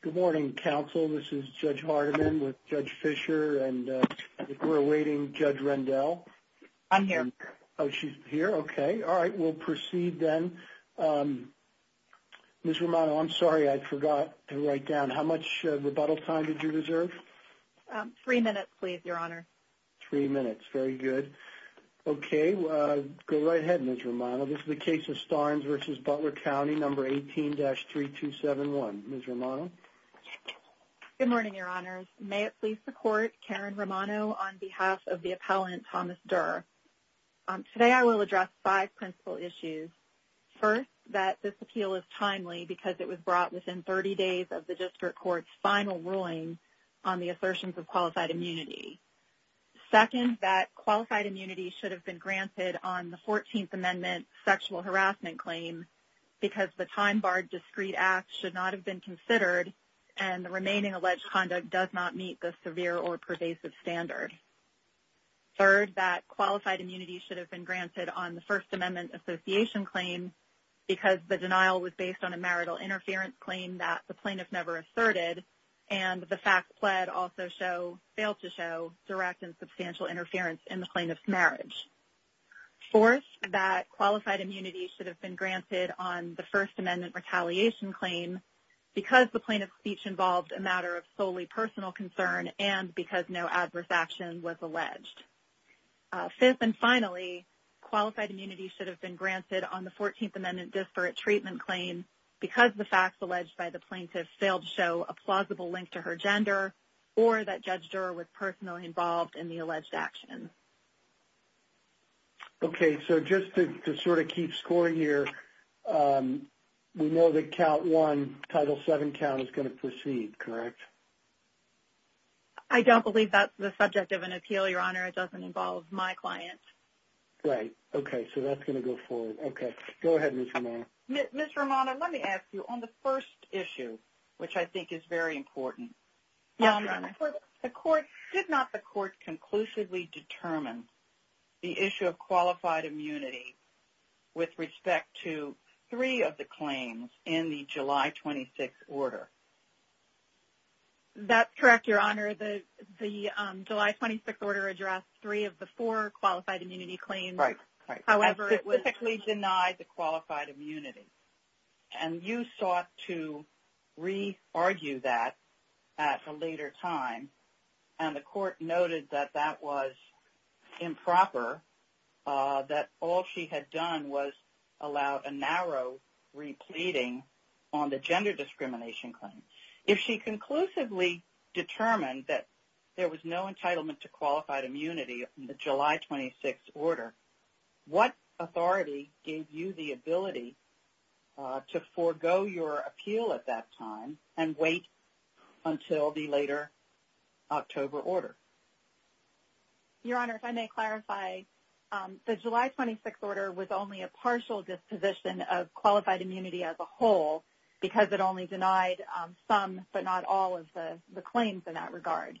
Good morning, counsel. This is Judge Hardiman with Judge Fischer, and we're awaiting Judge Rendell. I'm here. Oh, she's here? Okay. All right, we'll proceed then. Ms. Romano, I'm sorry, I forgot to write down. How much rebuttal time did you deserve? Three minutes, please, Your Honor. Three minutes. Very good. Okay, go right ahead, Ms. Romano. This is the case of Starnes v. Butler County, No. 18-3271. Ms. Romano? Good morning, Your Honors. May it please the Court, Karen Romano on behalf of the appellant, Thomas Durr. Today I will address five principal issues. First, that this appeal is timely because it was brought within 30 days of the district court's final ruling on the assertions of qualified immunity. Second, that qualified immunity should have been granted on the 14th Amendment sexual harassment claim because the time-barred discrete act should not have been considered and the remaining alleged conduct does not meet the severe or pervasive standard. Third, that qualified immunity should have been granted on the First Amendment association claim because the denial was based on a marital interference claim that the plaintiff never asserted and the facts pled also fail to show direct and substantial interference in the plaintiff's marriage. Fourth, that qualified immunity should have been granted on the First Amendment retaliation claim because the plaintiff's speech involved a matter of solely personal concern and because no adverse action was alleged. Fifth and finally, qualified immunity should have been granted on the 14th Amendment disparate treatment claim because the facts alleged by the plaintiff failed to show a plausible link to her gender or that Judge Durr was personally involved in the alleged action. Okay, so just to sort of keep scoring here, we know that count one, Title VII count is going to proceed, correct? I don't believe that's the subject of an appeal, Your Honor. It doesn't involve my client. Right, okay, so that's going to go forward. Okay, go ahead, Ms. Romano. Ms. Romano, let me ask you on the first issue, which I think is very important. Yes, Your Honor. Did not the court conclusively determine the issue of qualified immunity with respect to three of the claims in the July 26 order? That's correct, Your Honor. The July 26 order addressed three of the four qualified immunity claims. Right, right. However, it was... Specifically denied the qualified immunity. And you sought to re-argue that at a later time, and the court noted that that was improper, that all she had done was allowed a narrow re-pleading on the gender discrimination claim. If she conclusively determined that there was no entitlement to qualified immunity in the July 26 order, what authority gave you the ability to forego your appeal at that time and wait until the later October order? Your Honor, if I may clarify, the July 26 order was only a partial disposition of qualified immunity as a whole because it only denied some but not all of the claims in that regard.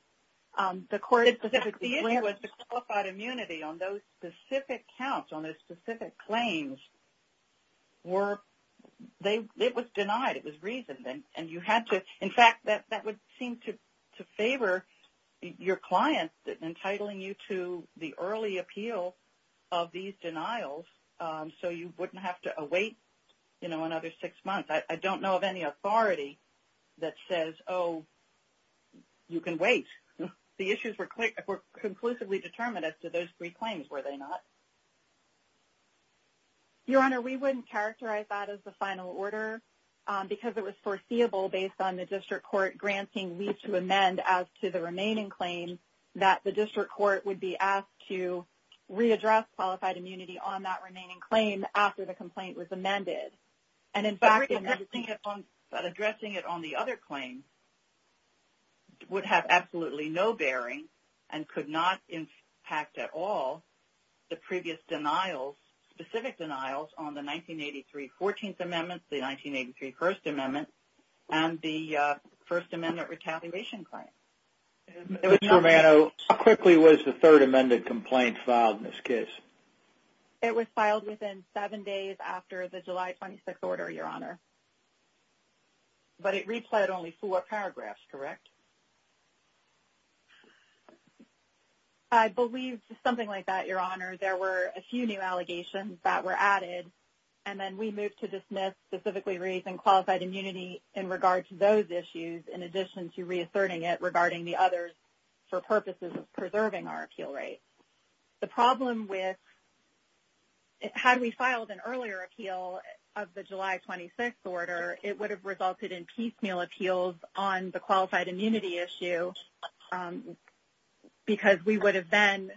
The court specifically... The issue was the qualified immunity on those specific counts, on those specific claims, were... It was denied. It was reasoned. And you had to... In fact, that would seem to favor your client entitling you to the early appeal of these denials so you wouldn't have to await, you know, another six months. I don't know of any authority that says, oh, you can wait. The issues were conclusively determined as to those three claims, were they not? Your Honor, we wouldn't characterize that as the final order because it was foreseeable based on the district court granting leave to amend as to the remaining claim that the district court would be asked to readdress qualified immunity on that remaining claim after the complaint was amended. And in fact... But addressing it on the other claim would have absolutely no bearing and could not impact at all the previous denials, specific denials, on the 1983 14th Amendment, the 1983 First Amendment, and the First Amendment retaliation claim. Ms. Romano, how quickly was the third amended complaint filed in this case? It was filed within seven days after the July 26th order, Your Honor. But it replayed only four paragraphs, correct? I believe something like that, Your Honor. There were a few new allegations that were added, and then we moved to dismiss specifically reasoned qualified immunity in regard to those issues in addition to reasserting it regarding the others for purposes of preserving our appeal rate. The problem with... Had we filed an earlier appeal of the July 26th order, it would have resulted in piecemeal appeals on the qualified immunity issue because we would have then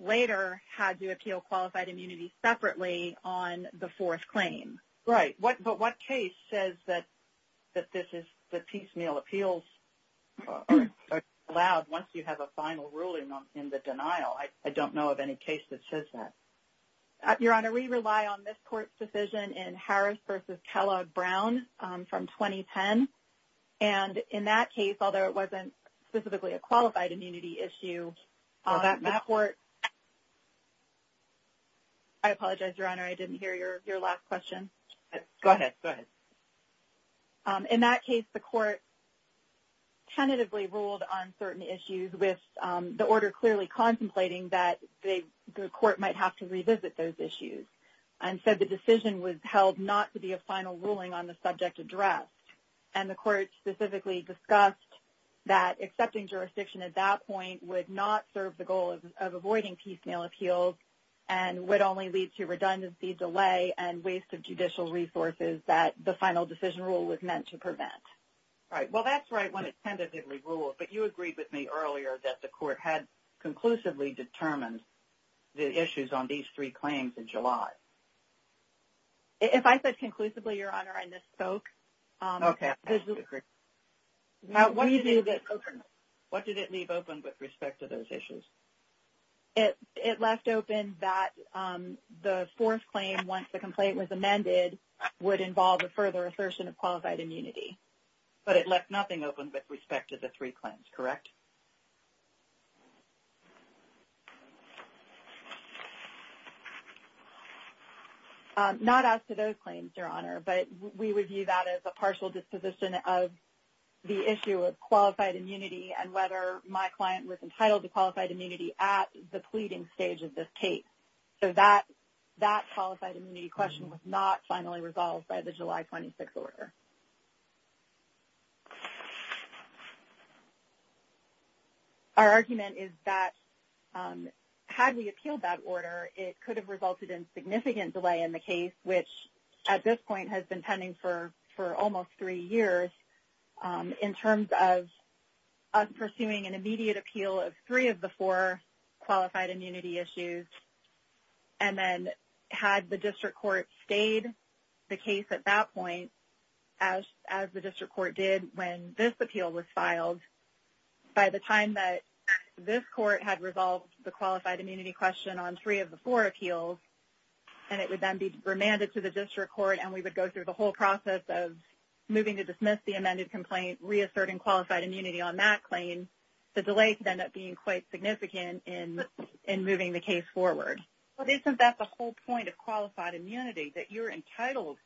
later had to appeal qualified immunity separately on the fourth claim. Right. But what case says that piecemeal appeals are allowed once you have a final ruling in the denial? I don't know of any case that says that. Your Honor, we rely on this court's decision in Harris v. Kellogg-Brown from 2010. And in that case, although it wasn't specifically a qualified immunity issue... I apologize, Your Honor. I didn't hear your last question. Go ahead. Go ahead. In that case, the court tentatively ruled on certain issues with the order clearly contemplating that the court might have to revisit those issues. And so the decision was held not to be a final ruling on the subject addressed. And the court specifically discussed that accepting jurisdiction at that point would not serve the goal of avoiding piecemeal appeals and would only lead to redundancy delay and waste of judicial resources that the final decision rule was meant to prevent. Right. Well, that's right when it tentatively ruled. But you agreed with me earlier that the court had conclusively determined the issues on these three claims in July. If I said conclusively, Your Honor, I misspoke. Okay. I'm sorry. Now, what did it leave open with respect to those issues? It left open that the fourth claim, once the complaint was amended, would involve a further assertion of qualified immunity. But it left nothing open with respect to the three claims, correct? Not as to those claims, Your Honor. But we would view that as a partial disposition of the issue of qualified immunity and whether my client was entitled to qualified immunity at the pleading stage of this case. So that qualified immunity question was not finally resolved by the July 26 order. Our argument is that had we appealed that order, it could have resulted in significant delay in the case, which at this point has been pending for almost three years, in terms of us pursuing an immediate appeal of three of the four qualified immunity issues. And then had the district court stayed the case at that point, as the district court did when this appeal was filed, by the time that this court had resolved the qualified immunity question on three of the four appeals, and it would then be remanded to the district court, and we would go through the whole process of moving to dismiss the amended complaint, reasserting qualified immunity on that claim, the delay could end up being quite significant in moving the case forward. But isn't that the whole point of qualified immunity, that you're entitled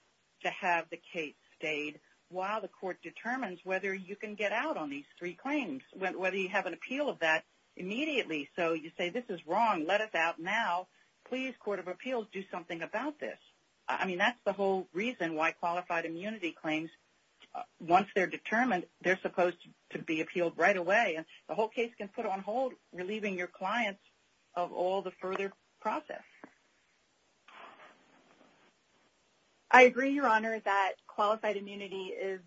to have the case stayed while the court determines whether you can get out on these three claims, whether you have an appeal of that immediately. So you say, this is wrong, let us out now. Please, court of appeals, do something about this. I mean, that's the whole reason why qualified immunity claims, once they're determined, they're supposed to be appealed right away. And the whole case can put on hold, relieving your clients of all the further process. I agree, Your Honor, that qualified immunity is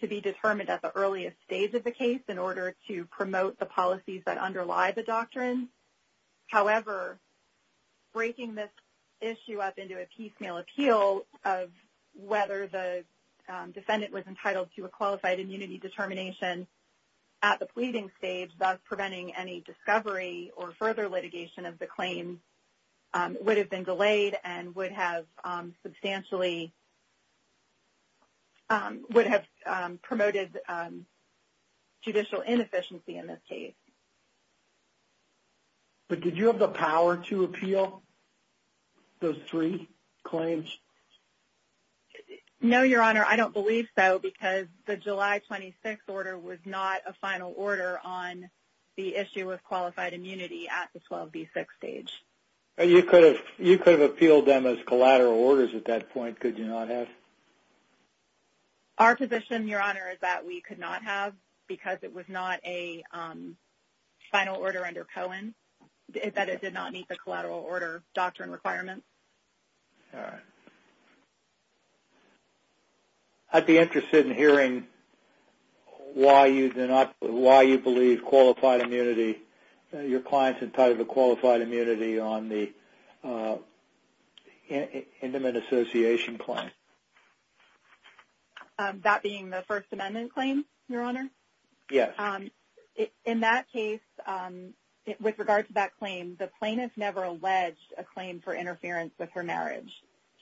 to be determined at the earliest stage of the case in order to promote the policies that underlie the doctrine. However, breaking this issue up into a piecemeal appeal of whether the defendant was entitled to a qualified immunity determination at the pleading stage, thus preventing any discovery or further litigation of the claim, would have been delayed and would have substantially, would have promoted judicial inefficiency in this case. But did you have the power to appeal those three claims? No, Your Honor, I don't believe so, because the July 26 order was not a final order on the issue of qualified immunity at the 12B6 stage. You could have appealed them as collateral orders at that point, could you not have? Our position, Your Honor, is that we could not have, because it was not a final order under Cohen, that it did not meet the collateral order doctrine requirements. All right. I'd be interested in hearing why you believe qualified immunity, your client's entitled to qualified immunity on the intimate association claim. That being the First Amendment claim, Your Honor? Yes. In that case, with regard to that claim, the plaintiff never alleged a claim for interference with her marriage.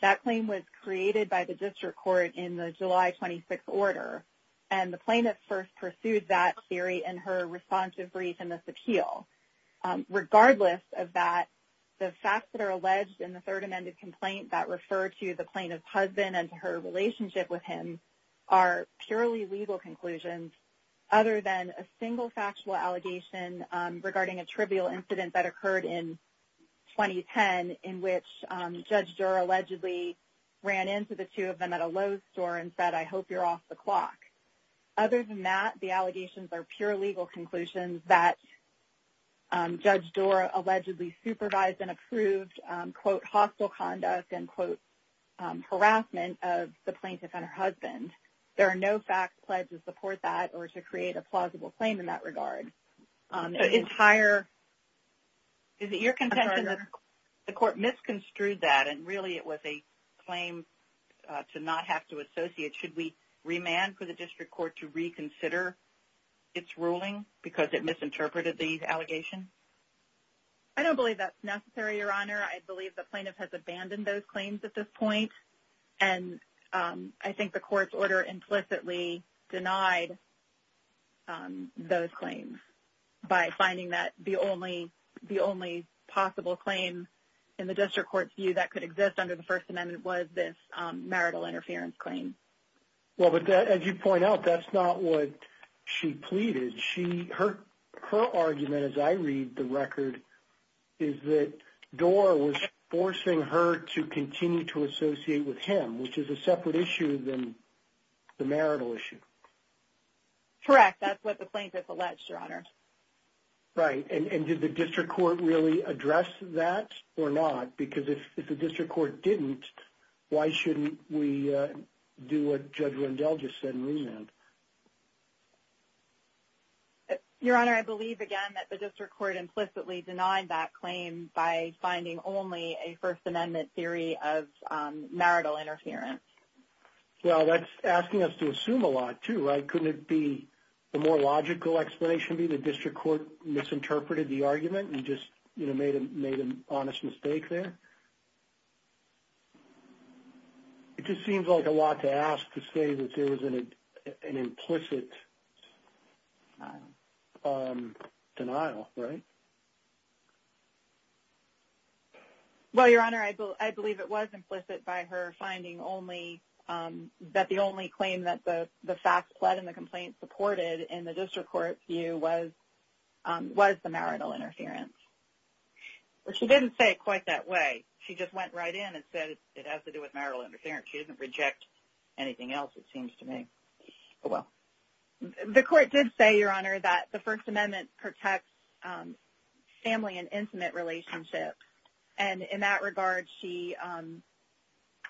That claim was created by the district court in the July 26 order, and the plaintiff first pursued that theory in her responsive brief in this appeal. Regardless of that, the facts that are alleged in the Third Amendment complaint that refer to the plaintiff's husband and her relationship with him are purely legal conclusions, other than a single factual allegation regarding a trivial incident that occurred in 2010, in which Judge Durer allegedly ran into the two of them at a Lowe's store and said, I hope you're off the clock. Other than that, the allegations are pure legal conclusions that Judge Durer allegedly supervised and approved, quote, hostile conduct and, quote, harassment of the plaintiff and her husband. There are no facts pledged to support that or to create a plausible claim in that regard. The entire – is it your contention that the court misconstrued that and really it was a claim to not have to associate? Should we remand for the district court to reconsider its ruling because it misinterpreted the allegation? I don't believe that's necessary, Your Honor. I believe the plaintiff has abandoned those claims at this point, and I think the court's order implicitly denied those claims by finding that the only possible claim in the district court's view that could exist under the First Amendment was this marital interference claim. Well, but as you point out, that's not what she pleaded. Her argument, as I read the record, is that Durer was forcing her to continue to associate with him, which is a separate issue than the marital issue. Correct. That's what the plaintiff alleged, Your Honor. Right. And did the district court really address that or not? Because if the district court didn't, why shouldn't we do what Judge Rendell just said and remand? Your Honor, I believe, again, that the district court implicitly denied that claim by finding only a First Amendment theory of marital interference. Well, that's asking us to assume a lot, too, right? Couldn't it be – the more logical explanation be the district court misinterpreted the argument and just made an honest mistake there? It just seems like a lot to ask to say that there was an implicit denial, right? Well, Your Honor, I believe it was implicit by her finding only – that the only claim that the facts pled in the complaint supported in the district court view was the marital interference. But she didn't say it quite that way. She just went right in and said it has to do with marital interference. She doesn't reject anything else, it seems to me. Oh, well. The court did say, Your Honor, that the First Amendment protects family and intimate relationships. And in that regard, she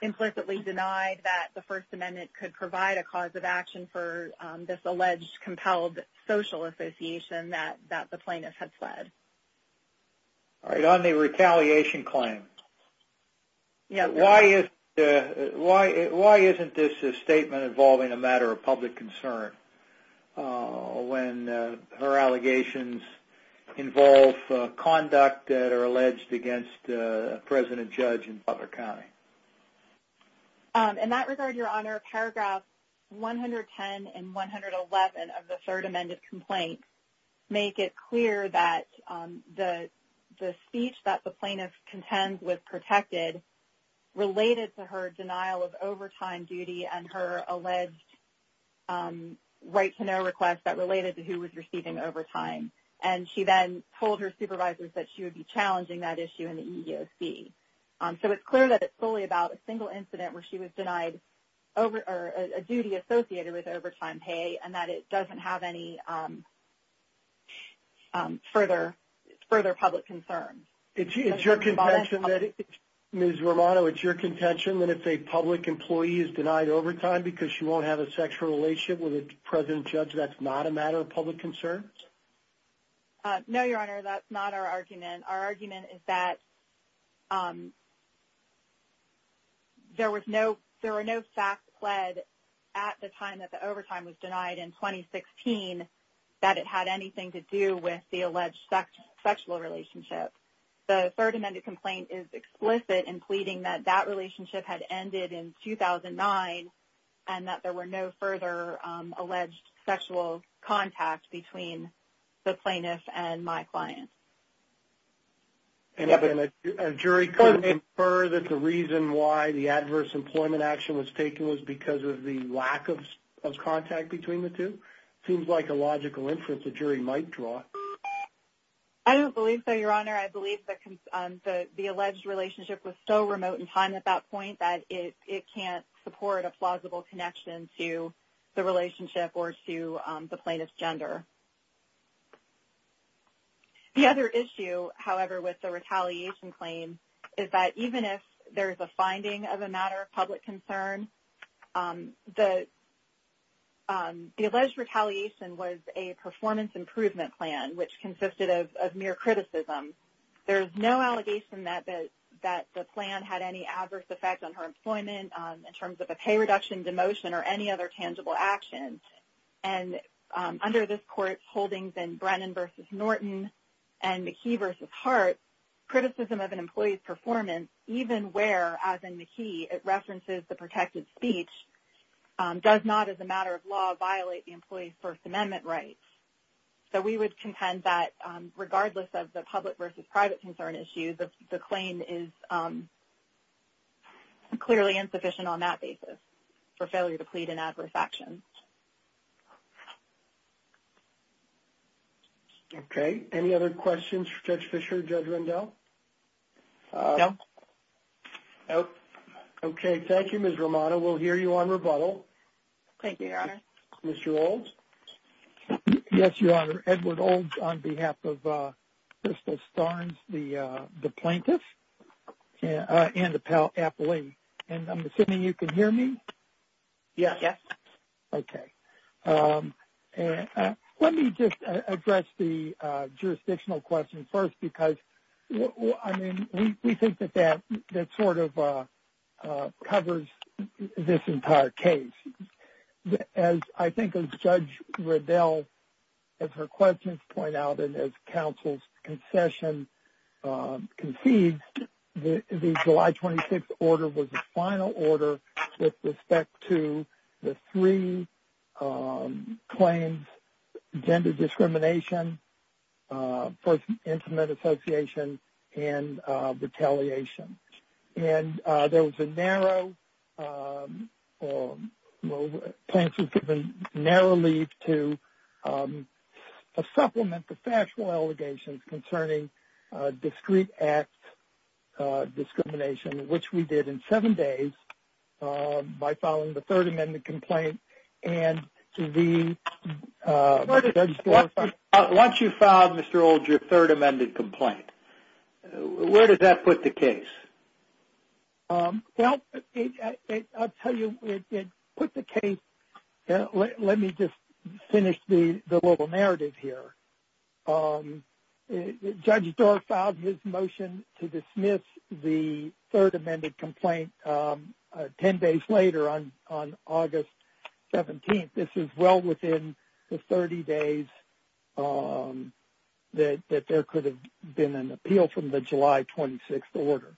implicitly denied that the First Amendment could provide a cause of action for this alleged compelled social association that the plaintiff had pled. All right, on the retaliation claim, why isn't this a statement involving a matter of public concern when her allegations involve conduct that are alleged against a president judge in Butler County? In that regard, Your Honor, paragraphs 110 and 111 of the Third Amendment complaint make it clear that the speech that the plaintiff contends was protected related to her denial of overtime duty and her alleged right-to-know request that related to who was receiving overtime. And she then told her supervisors that she would be challenging that issue in the EEOC. So it's clear that it's solely about a single incident where she was denied a duty associated with overtime pay and that it doesn't have any further public concern. Ms. Romano, it's your contention that if a public employee is denied overtime because she won't have a sexual relationship with a president judge, that's not a matter of public concern? No, Your Honor, that's not our argument. Our argument is that there were no facts pled at the time that the overtime was denied in 2016 that it had anything to do with the alleged sexual relationship. The Third Amendment complaint is explicit in pleading that that relationship had ended in 2009 and that there were no further alleged sexual contact between the plaintiff and my client. And a jury couldn't infer that the reason why the adverse employment action was taken was because of the lack of contact between the two? It seems like a logical inference a jury might draw. I don't believe so, Your Honor. I believe that the alleged relationship was so remote in time at that point that it can't support a plausible connection to the relationship or to the plaintiff's gender. The other issue, however, with the retaliation claim is that even if there is a finding of a matter of public concern, the alleged retaliation was a performance improvement plan which consisted of mere criticism. There is no allegation that the plan had any adverse effect on her employment in terms of a pay reduction, demotion, or any other tangible action. And under this Court's holdings in Brennan v. Norton and McKee v. Hart, criticism of an employee's performance, even where, as in McKee, it references the protected speech, does not as a matter of law violate the employee's First Amendment rights. So we would contend that regardless of the public versus private concern issue, the claim is clearly insufficient on that basis for failure to plead an adverse action. Okay. Any other questions for Judge Fischer, Judge Rendell? No. Okay. Thank you, Ms. Romano. We'll hear you on rebuttal. Thank you, Your Honor. Mr. Olds? Yes, Your Honor. Edward Olds on behalf of Crystal Starnes, the plaintiff, and the appellee. And I'm assuming you can hear me? Yes. Okay. Let me just address the jurisdictional question first because, I mean, we think that that sort of covers this entire case. As I think as Judge Rendell, as her questions point out and as counsel's concession concedes, the July 26th order was the final order with respect to the three claims, gender discrimination, First Amendment association, and retaliation. And there was a narrow, the plaintiff was given narrow leave to supplement the factual allegations concerning discreet act discrimination, which we did in seven days by filing the Third Amendment complaint. Once you filed, Mr. Olds, your Third Amendment complaint, where did that put the case? Well, I'll tell you, it put the case, let me just finish the little narrative here. Judge Doar filed his motion to dismiss the Third Amendment complaint ten days later on August 17th. This is well within the 30 days that there could have been an appeal from the July 26th order.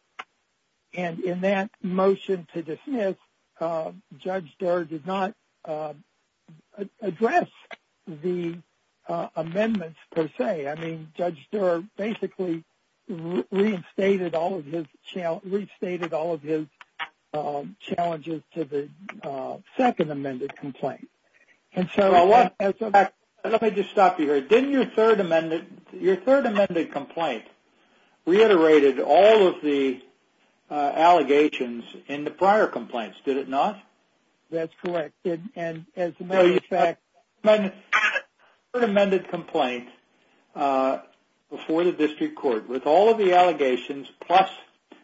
And in that motion to dismiss, Judge Doar did not address the amendments per se. I mean, Judge Doar basically reinstated all of his challenges to the Second Amendment complaint. Let me just stop you here. Didn't your Third Amendment complaint reiterate all of the allegations in the prior complaints, did it not? That's correct. No, you had a Third Amendment complaint before the district court with all of the allegations, plus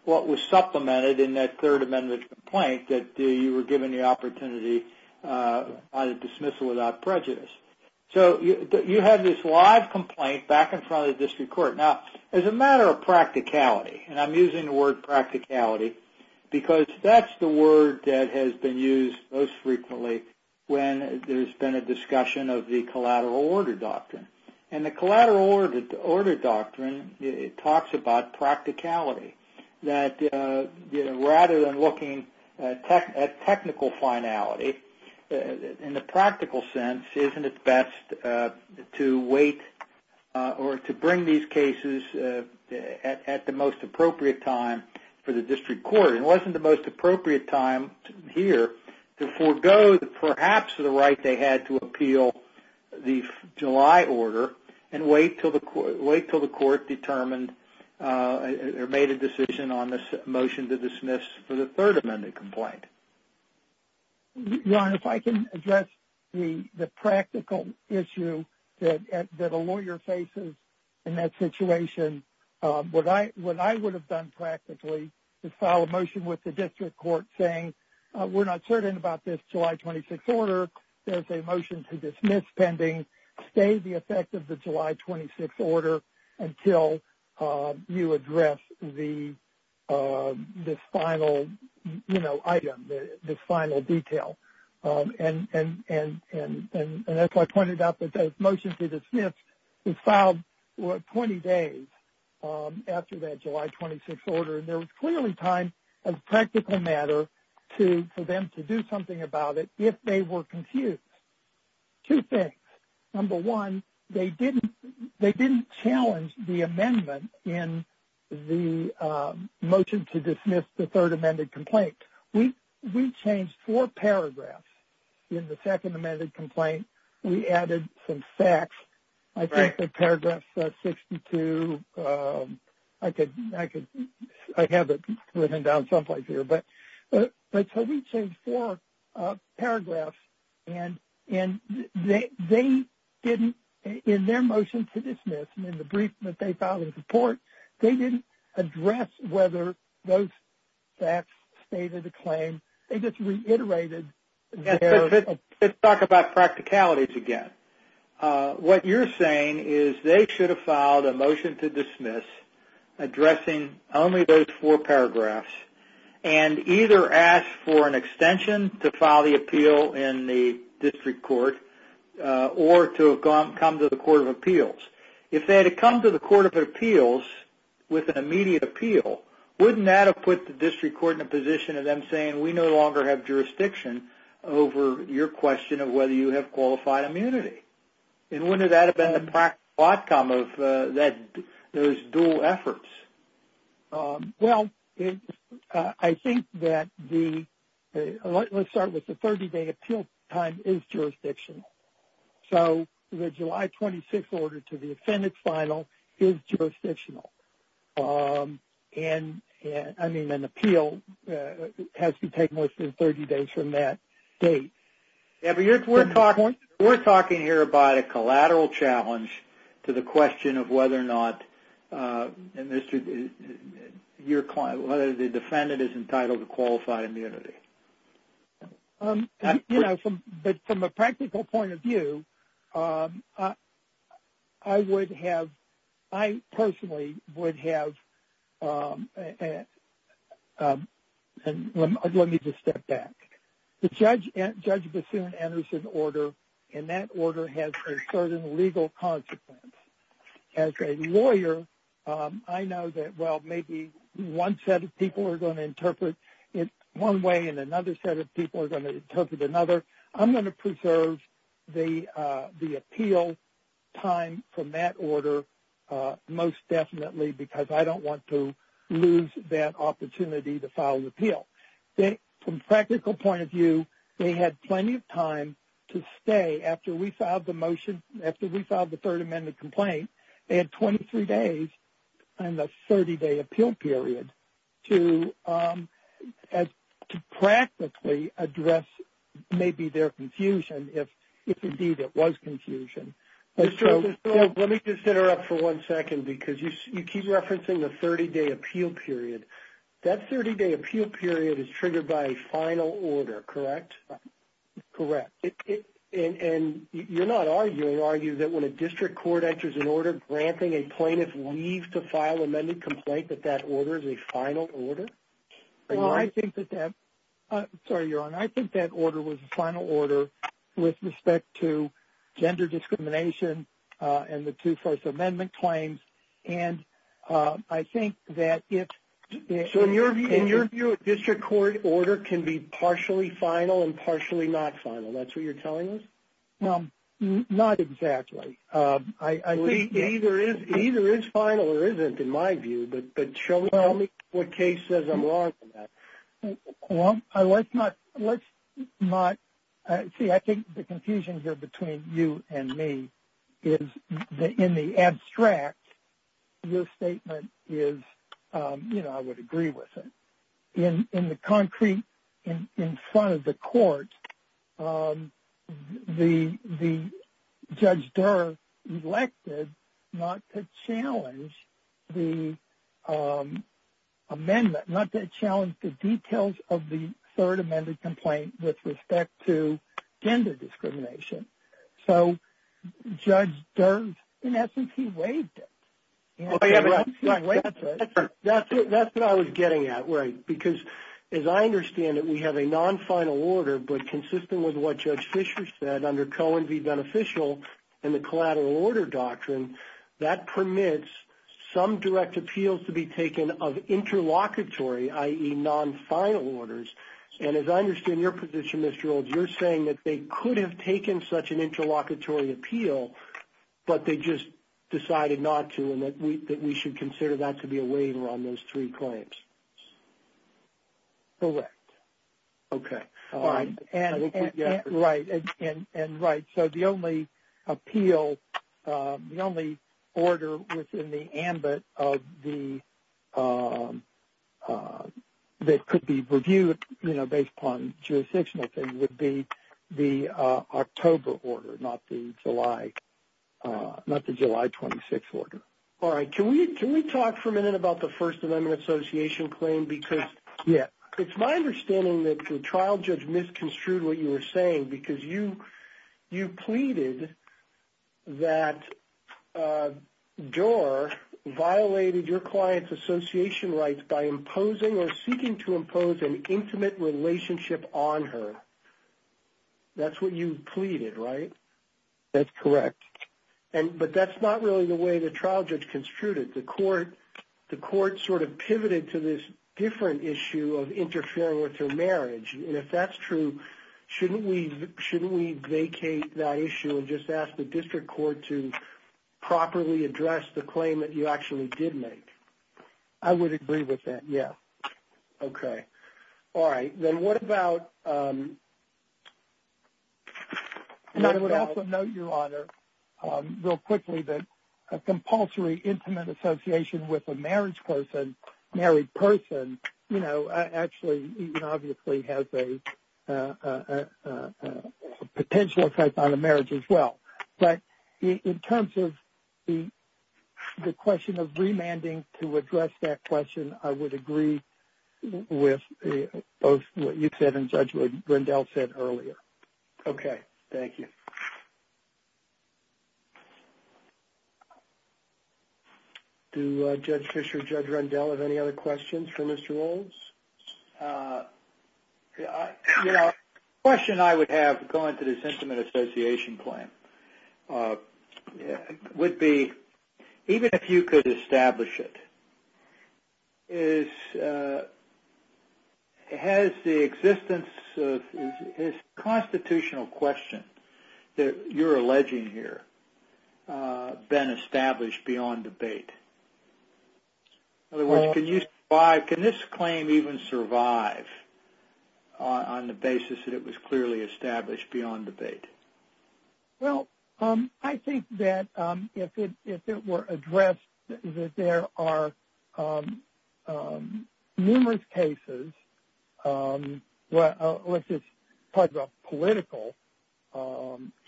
what was supplemented in that Third Amendment complaint that you were given the opportunity by the dismissal without prejudice. So you had this live complaint back in front of the district court. Now, as a matter of practicality, and I'm using the word practicality because that's the word that has been used most frequently when there's been a discussion of the collateral order doctrine. And the collateral order doctrine talks about practicality, that rather than looking at technical finality, in the practical sense, isn't it best to wait or to bring these cases at the most appropriate time for the district court? It wasn't the most appropriate time here to forego perhaps the right they had to appeal the July order and wait until the court determined or made a decision on this motion to dismiss for the Third Amendment complaint. Ron, if I can address the practical issue that a lawyer faces in that situation, what I would have done practically is file a motion with the district court saying, we're not certain about this July 26 order, there's a motion to dismiss pending, stay the effect of the July 26 order until you address this final item, this final detail. And as I pointed out, the motion to dismiss was filed 20 days after that July 26 order, and there was clearly time as a practical matter for them to do something about it if they were confused. Two things. Number one, they didn't challenge the amendment in the motion to dismiss the Third Amendment complaint. We changed four paragraphs in the Second Amendment complaint. We added some facts. I think the paragraph 62, I have it written down someplace here. But so we changed four paragraphs, and they didn't, in their motion to dismiss, and in the brief that they filed in support, they didn't address whether those facts stated a claim. They just reiterated their- Let's talk about practicalities again. What you're saying is they should have filed a motion to dismiss addressing only those four paragraphs and either asked for an extension to file the appeal in the district court or to come to the court of appeals. If they had come to the court of appeals with an immediate appeal, wouldn't that have put the district court in a position of them saying, we no longer have jurisdiction over your question of whether you have qualified immunity? And wouldn't that have been the practical outcome of those dual efforts? Well, I think that the- Let's start with the 30-day appeal time is jurisdictional. So the July 26 order to the appendix final is jurisdictional. And, I mean, an appeal has to take place in 30 days from that date. We're talking here about a collateral challenge to the question of whether or not your client, whether the defendant is entitled to qualified immunity. You know, from a practical point of view, I would have- I personally would have- Let me just step back. The judge bassoon enters an order, and that order has a certain legal consequence. As a lawyer, I know that, well, maybe one set of people are going to interpret it one way and another set of people are going to interpret another. I'm going to preserve the appeal time from that order most definitely because I don't want to lose that opportunity to file an appeal. From a practical point of view, they had plenty of time to stay. After we filed the motion, after we filed the Third Amendment complaint, they had 23 days and a 30-day appeal period to practically address maybe their confusion, if indeed it was confusion. Let me just interrupt for one second because you keep referencing the 30-day appeal period. That 30-day appeal period is triggered by a final order, correct? Correct. You're not arguing, are you, that when a district court enters an order granting a plaintiff leave to file an amended complaint that that order is a final order? Well, I think that that-sorry, you're on. I think that order was a final order with respect to gender discrimination and the two First Amendment claims. I think that if- Partially final and partially not final, that's what you're telling us? Not exactly. It either is final or isn't in my view, but show me what case says I'm wrong on that. Well, let's not-see, I think the confusion here between you and me is in the abstract, your statement is, you know, I would agree with it. In the concrete, in front of the court, the Judge Durr elected not to challenge the amendment, not to challenge the details of the Third Amendment complaint with respect to gender discrimination. So Judge Durr, in essence, he waived it. That's what I was getting at, right, because as I understand it, we have a non-final order, but consistent with what Judge Fischer said under Cohen v. Beneficial and the collateral order doctrine, that permits some direct appeals to be taken of interlocutory, i.e., non-final orders, and as I understand your position, Mr. Olds, you're saying that they could have taken such an interlocutory appeal, but they just decided not to and that we should consider that to be a waiver on those three claims. Correct. Okay. All right. And right, so the only appeal, the only order within the ambit of the-that could be reviewed, you know, based upon jurisdictional things, would be the October order, not the July 26 order. All right. Can we talk for a minute about the First Amendment Association claim? Because it's my understanding that the trial judge misconstrued what you were saying because you pleaded that Durr violated your client's association rights by imposing or seeking to impose an intimate relationship on her. That's what you pleaded, right? That's correct. But that's not really the way the trial judge construed it. The court sort of pivoted to this different issue of interfering with her marriage, and if that's true, shouldn't we vacate that issue and just ask the district court to properly address the claim that you actually did make? I would agree with that, yes. Okay. All right. Then what about- And I would also note, Your Honor, real quickly, that a compulsory intimate association with a married person, you know, actually obviously has a potential effect on a marriage as well. But in terms of the question of remanding to address that question, I would agree with both what you said and what Judge Rendell said earlier. Okay. Thank you. Do Judge Fischer and Judge Rendell have any other questions for Mr. Rolls? You know, a question I would have going to this intimate association claim would be, even if you could establish it, has the existence of this constitutional question that you're alleging here been established beyond debate? In other words, can this claim even survive on the basis that it was clearly established beyond debate? Well, I think that if it were addressed, that there are numerous cases, let's just talk about political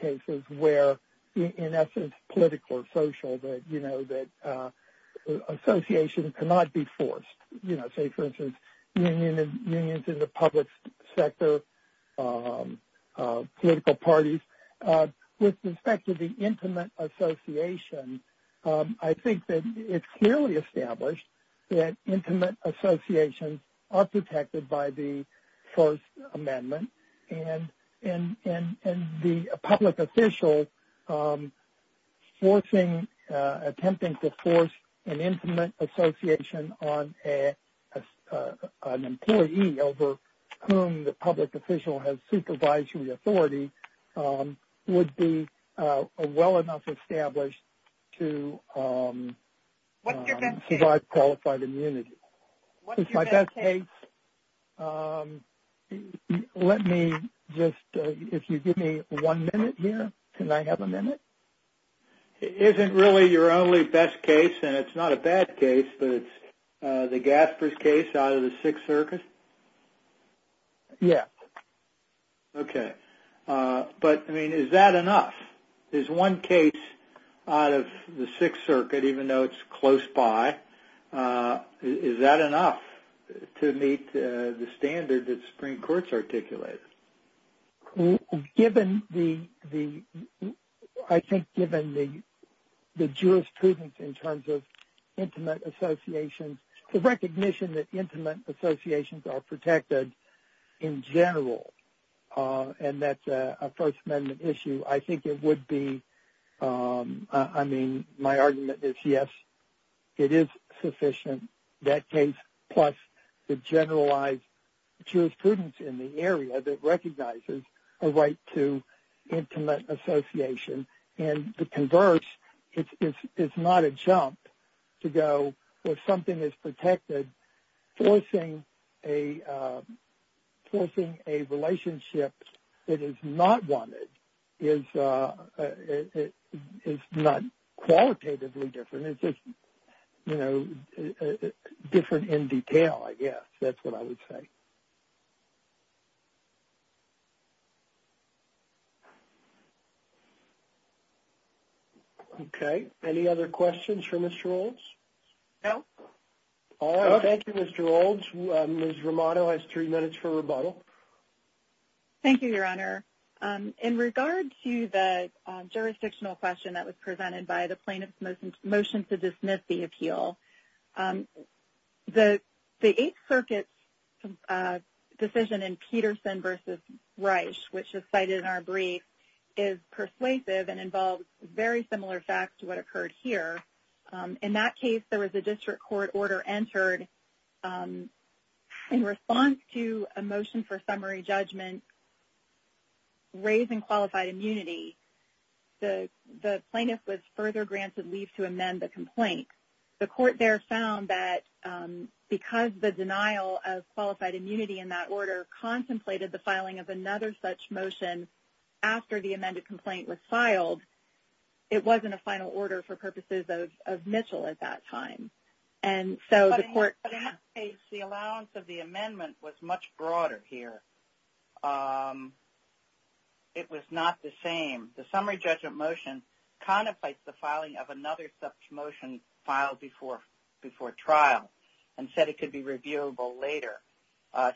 cases where, in essence, political or social, that association cannot be forced. You know, say, for instance, unions in the public sector, political parties. With respect to the intimate association, I think that it's clearly established that intimate associations are protected by the First Amendment. And the public official attempting to force an intimate association on an employee over whom the public official has supervisory authority would be well enough established to survive qualified immunity. It's my best case. Let me just, if you give me one minute here. Can I have a minute? It isn't really your only best case, and it's not a bad case, but it's the Gaspers case out of the Sixth Circus? Yes. Okay. But, I mean, is that enough? Is one case out of the Sixth Circuit, even though it's close by, is that enough to meet the standard that the Supreme Court's articulated? Given the, I think, given the jurisprudence in terms of intimate associations, the recognition that intimate associations are protected in general, and that's a First Amendment issue, I think it would be, I mean, my argument is yes, it is sufficient, that case plus the generalized jurisprudence in the area that recognizes a right to intimate association. And the converse is not a jump to go, well, something is protected. Forcing a relationship that is not wanted is not qualitatively different. It's just, you know, different in detail, I guess. That's what I would say. Okay. Any other questions for Mr. Olds? No. All right. Thank you, Mr. Olds. Ms. Romano has three minutes for rebuttal. Thank you, Your Honor. In regard to the jurisdictional question that was presented by the plaintiff's motion to dismiss the appeal, the Eighth Circuit's decision in Peterson v. Reich, which is cited in our brief, is persuasive and involves very similar facts to what occurred here. In that case, there was a district court order entered in response to a motion for summary judgment raising qualified immunity. The plaintiff was further granted leave to amend the complaint. The court there found that because the denial of qualified immunity in that order contemplated the filing of another such motion after the amended complaint was filed, it wasn't a final order for purposes of Mitchell at that time. But in that case, the allowance of the amendment was much broader here. It was not the same. The summary judgment motion contemplates the filing of another such motion filed before trial and said it could be reviewable later,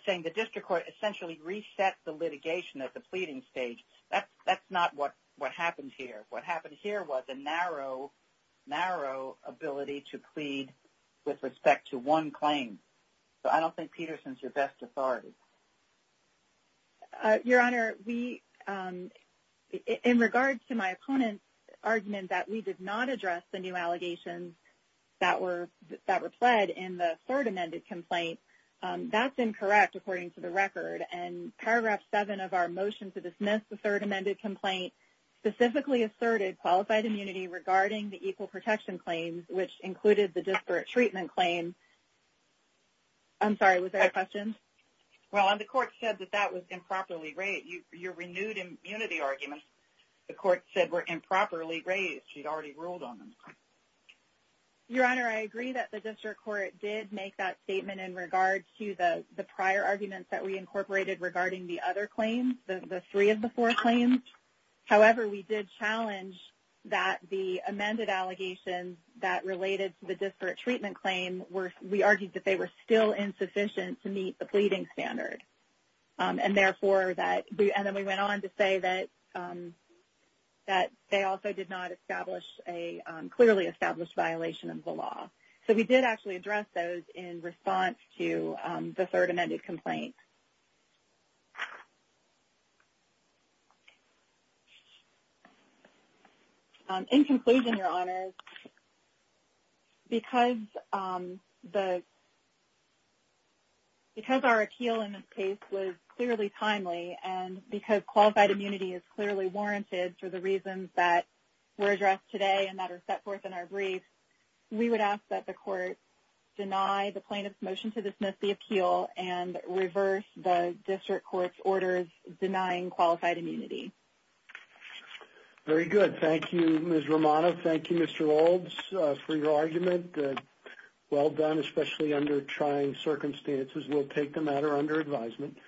saying the district court essentially reset the litigation at the pleading stage. That's not what happened here. What happened here was a narrow, narrow ability to plead with respect to one claim. So I don't think Peterson is your best authority. Your Honor, in regards to my opponent's argument that we did not address the new allegations that were pled in the third amended complaint, that's incorrect according to the record. And Paragraph 7 of our motion to dismiss the third amended complaint specifically asserted qualified immunity regarding the equal protection claims, which included the disparate treatment claim. I'm sorry, was there a question? Well, the court said that that was improperly raised. Your renewed immunity arguments, the court said, were improperly raised. She'd already ruled on them. Your Honor, I agree that the district court did make that statement in regards to the prior arguments that we incorporated regarding the other claims, the three of the four claims. However, we did challenge that the amended allegations that related to the disparate treatment claim, we argued that they were still insufficient to meet the pleading standard. And therefore, and then we went on to say that they also did not establish a clearly established violation of the law. So we did actually address those in response to the third amended complaint. In conclusion, Your Honors, because our appeal in this case was clearly timely and because qualified immunity is clearly warranted for the reasons that were addressed today and that are set forth in our brief, we would ask that the court deny the plaintiff's motion to dismiss the appeal and reverse the district court's orders denying qualified immunity. Very good. Thank you, Ms. Romano. Thank you, Mr. Olds, for your argument. Well done, especially under trying circumstances. We'll take the matter under advisement.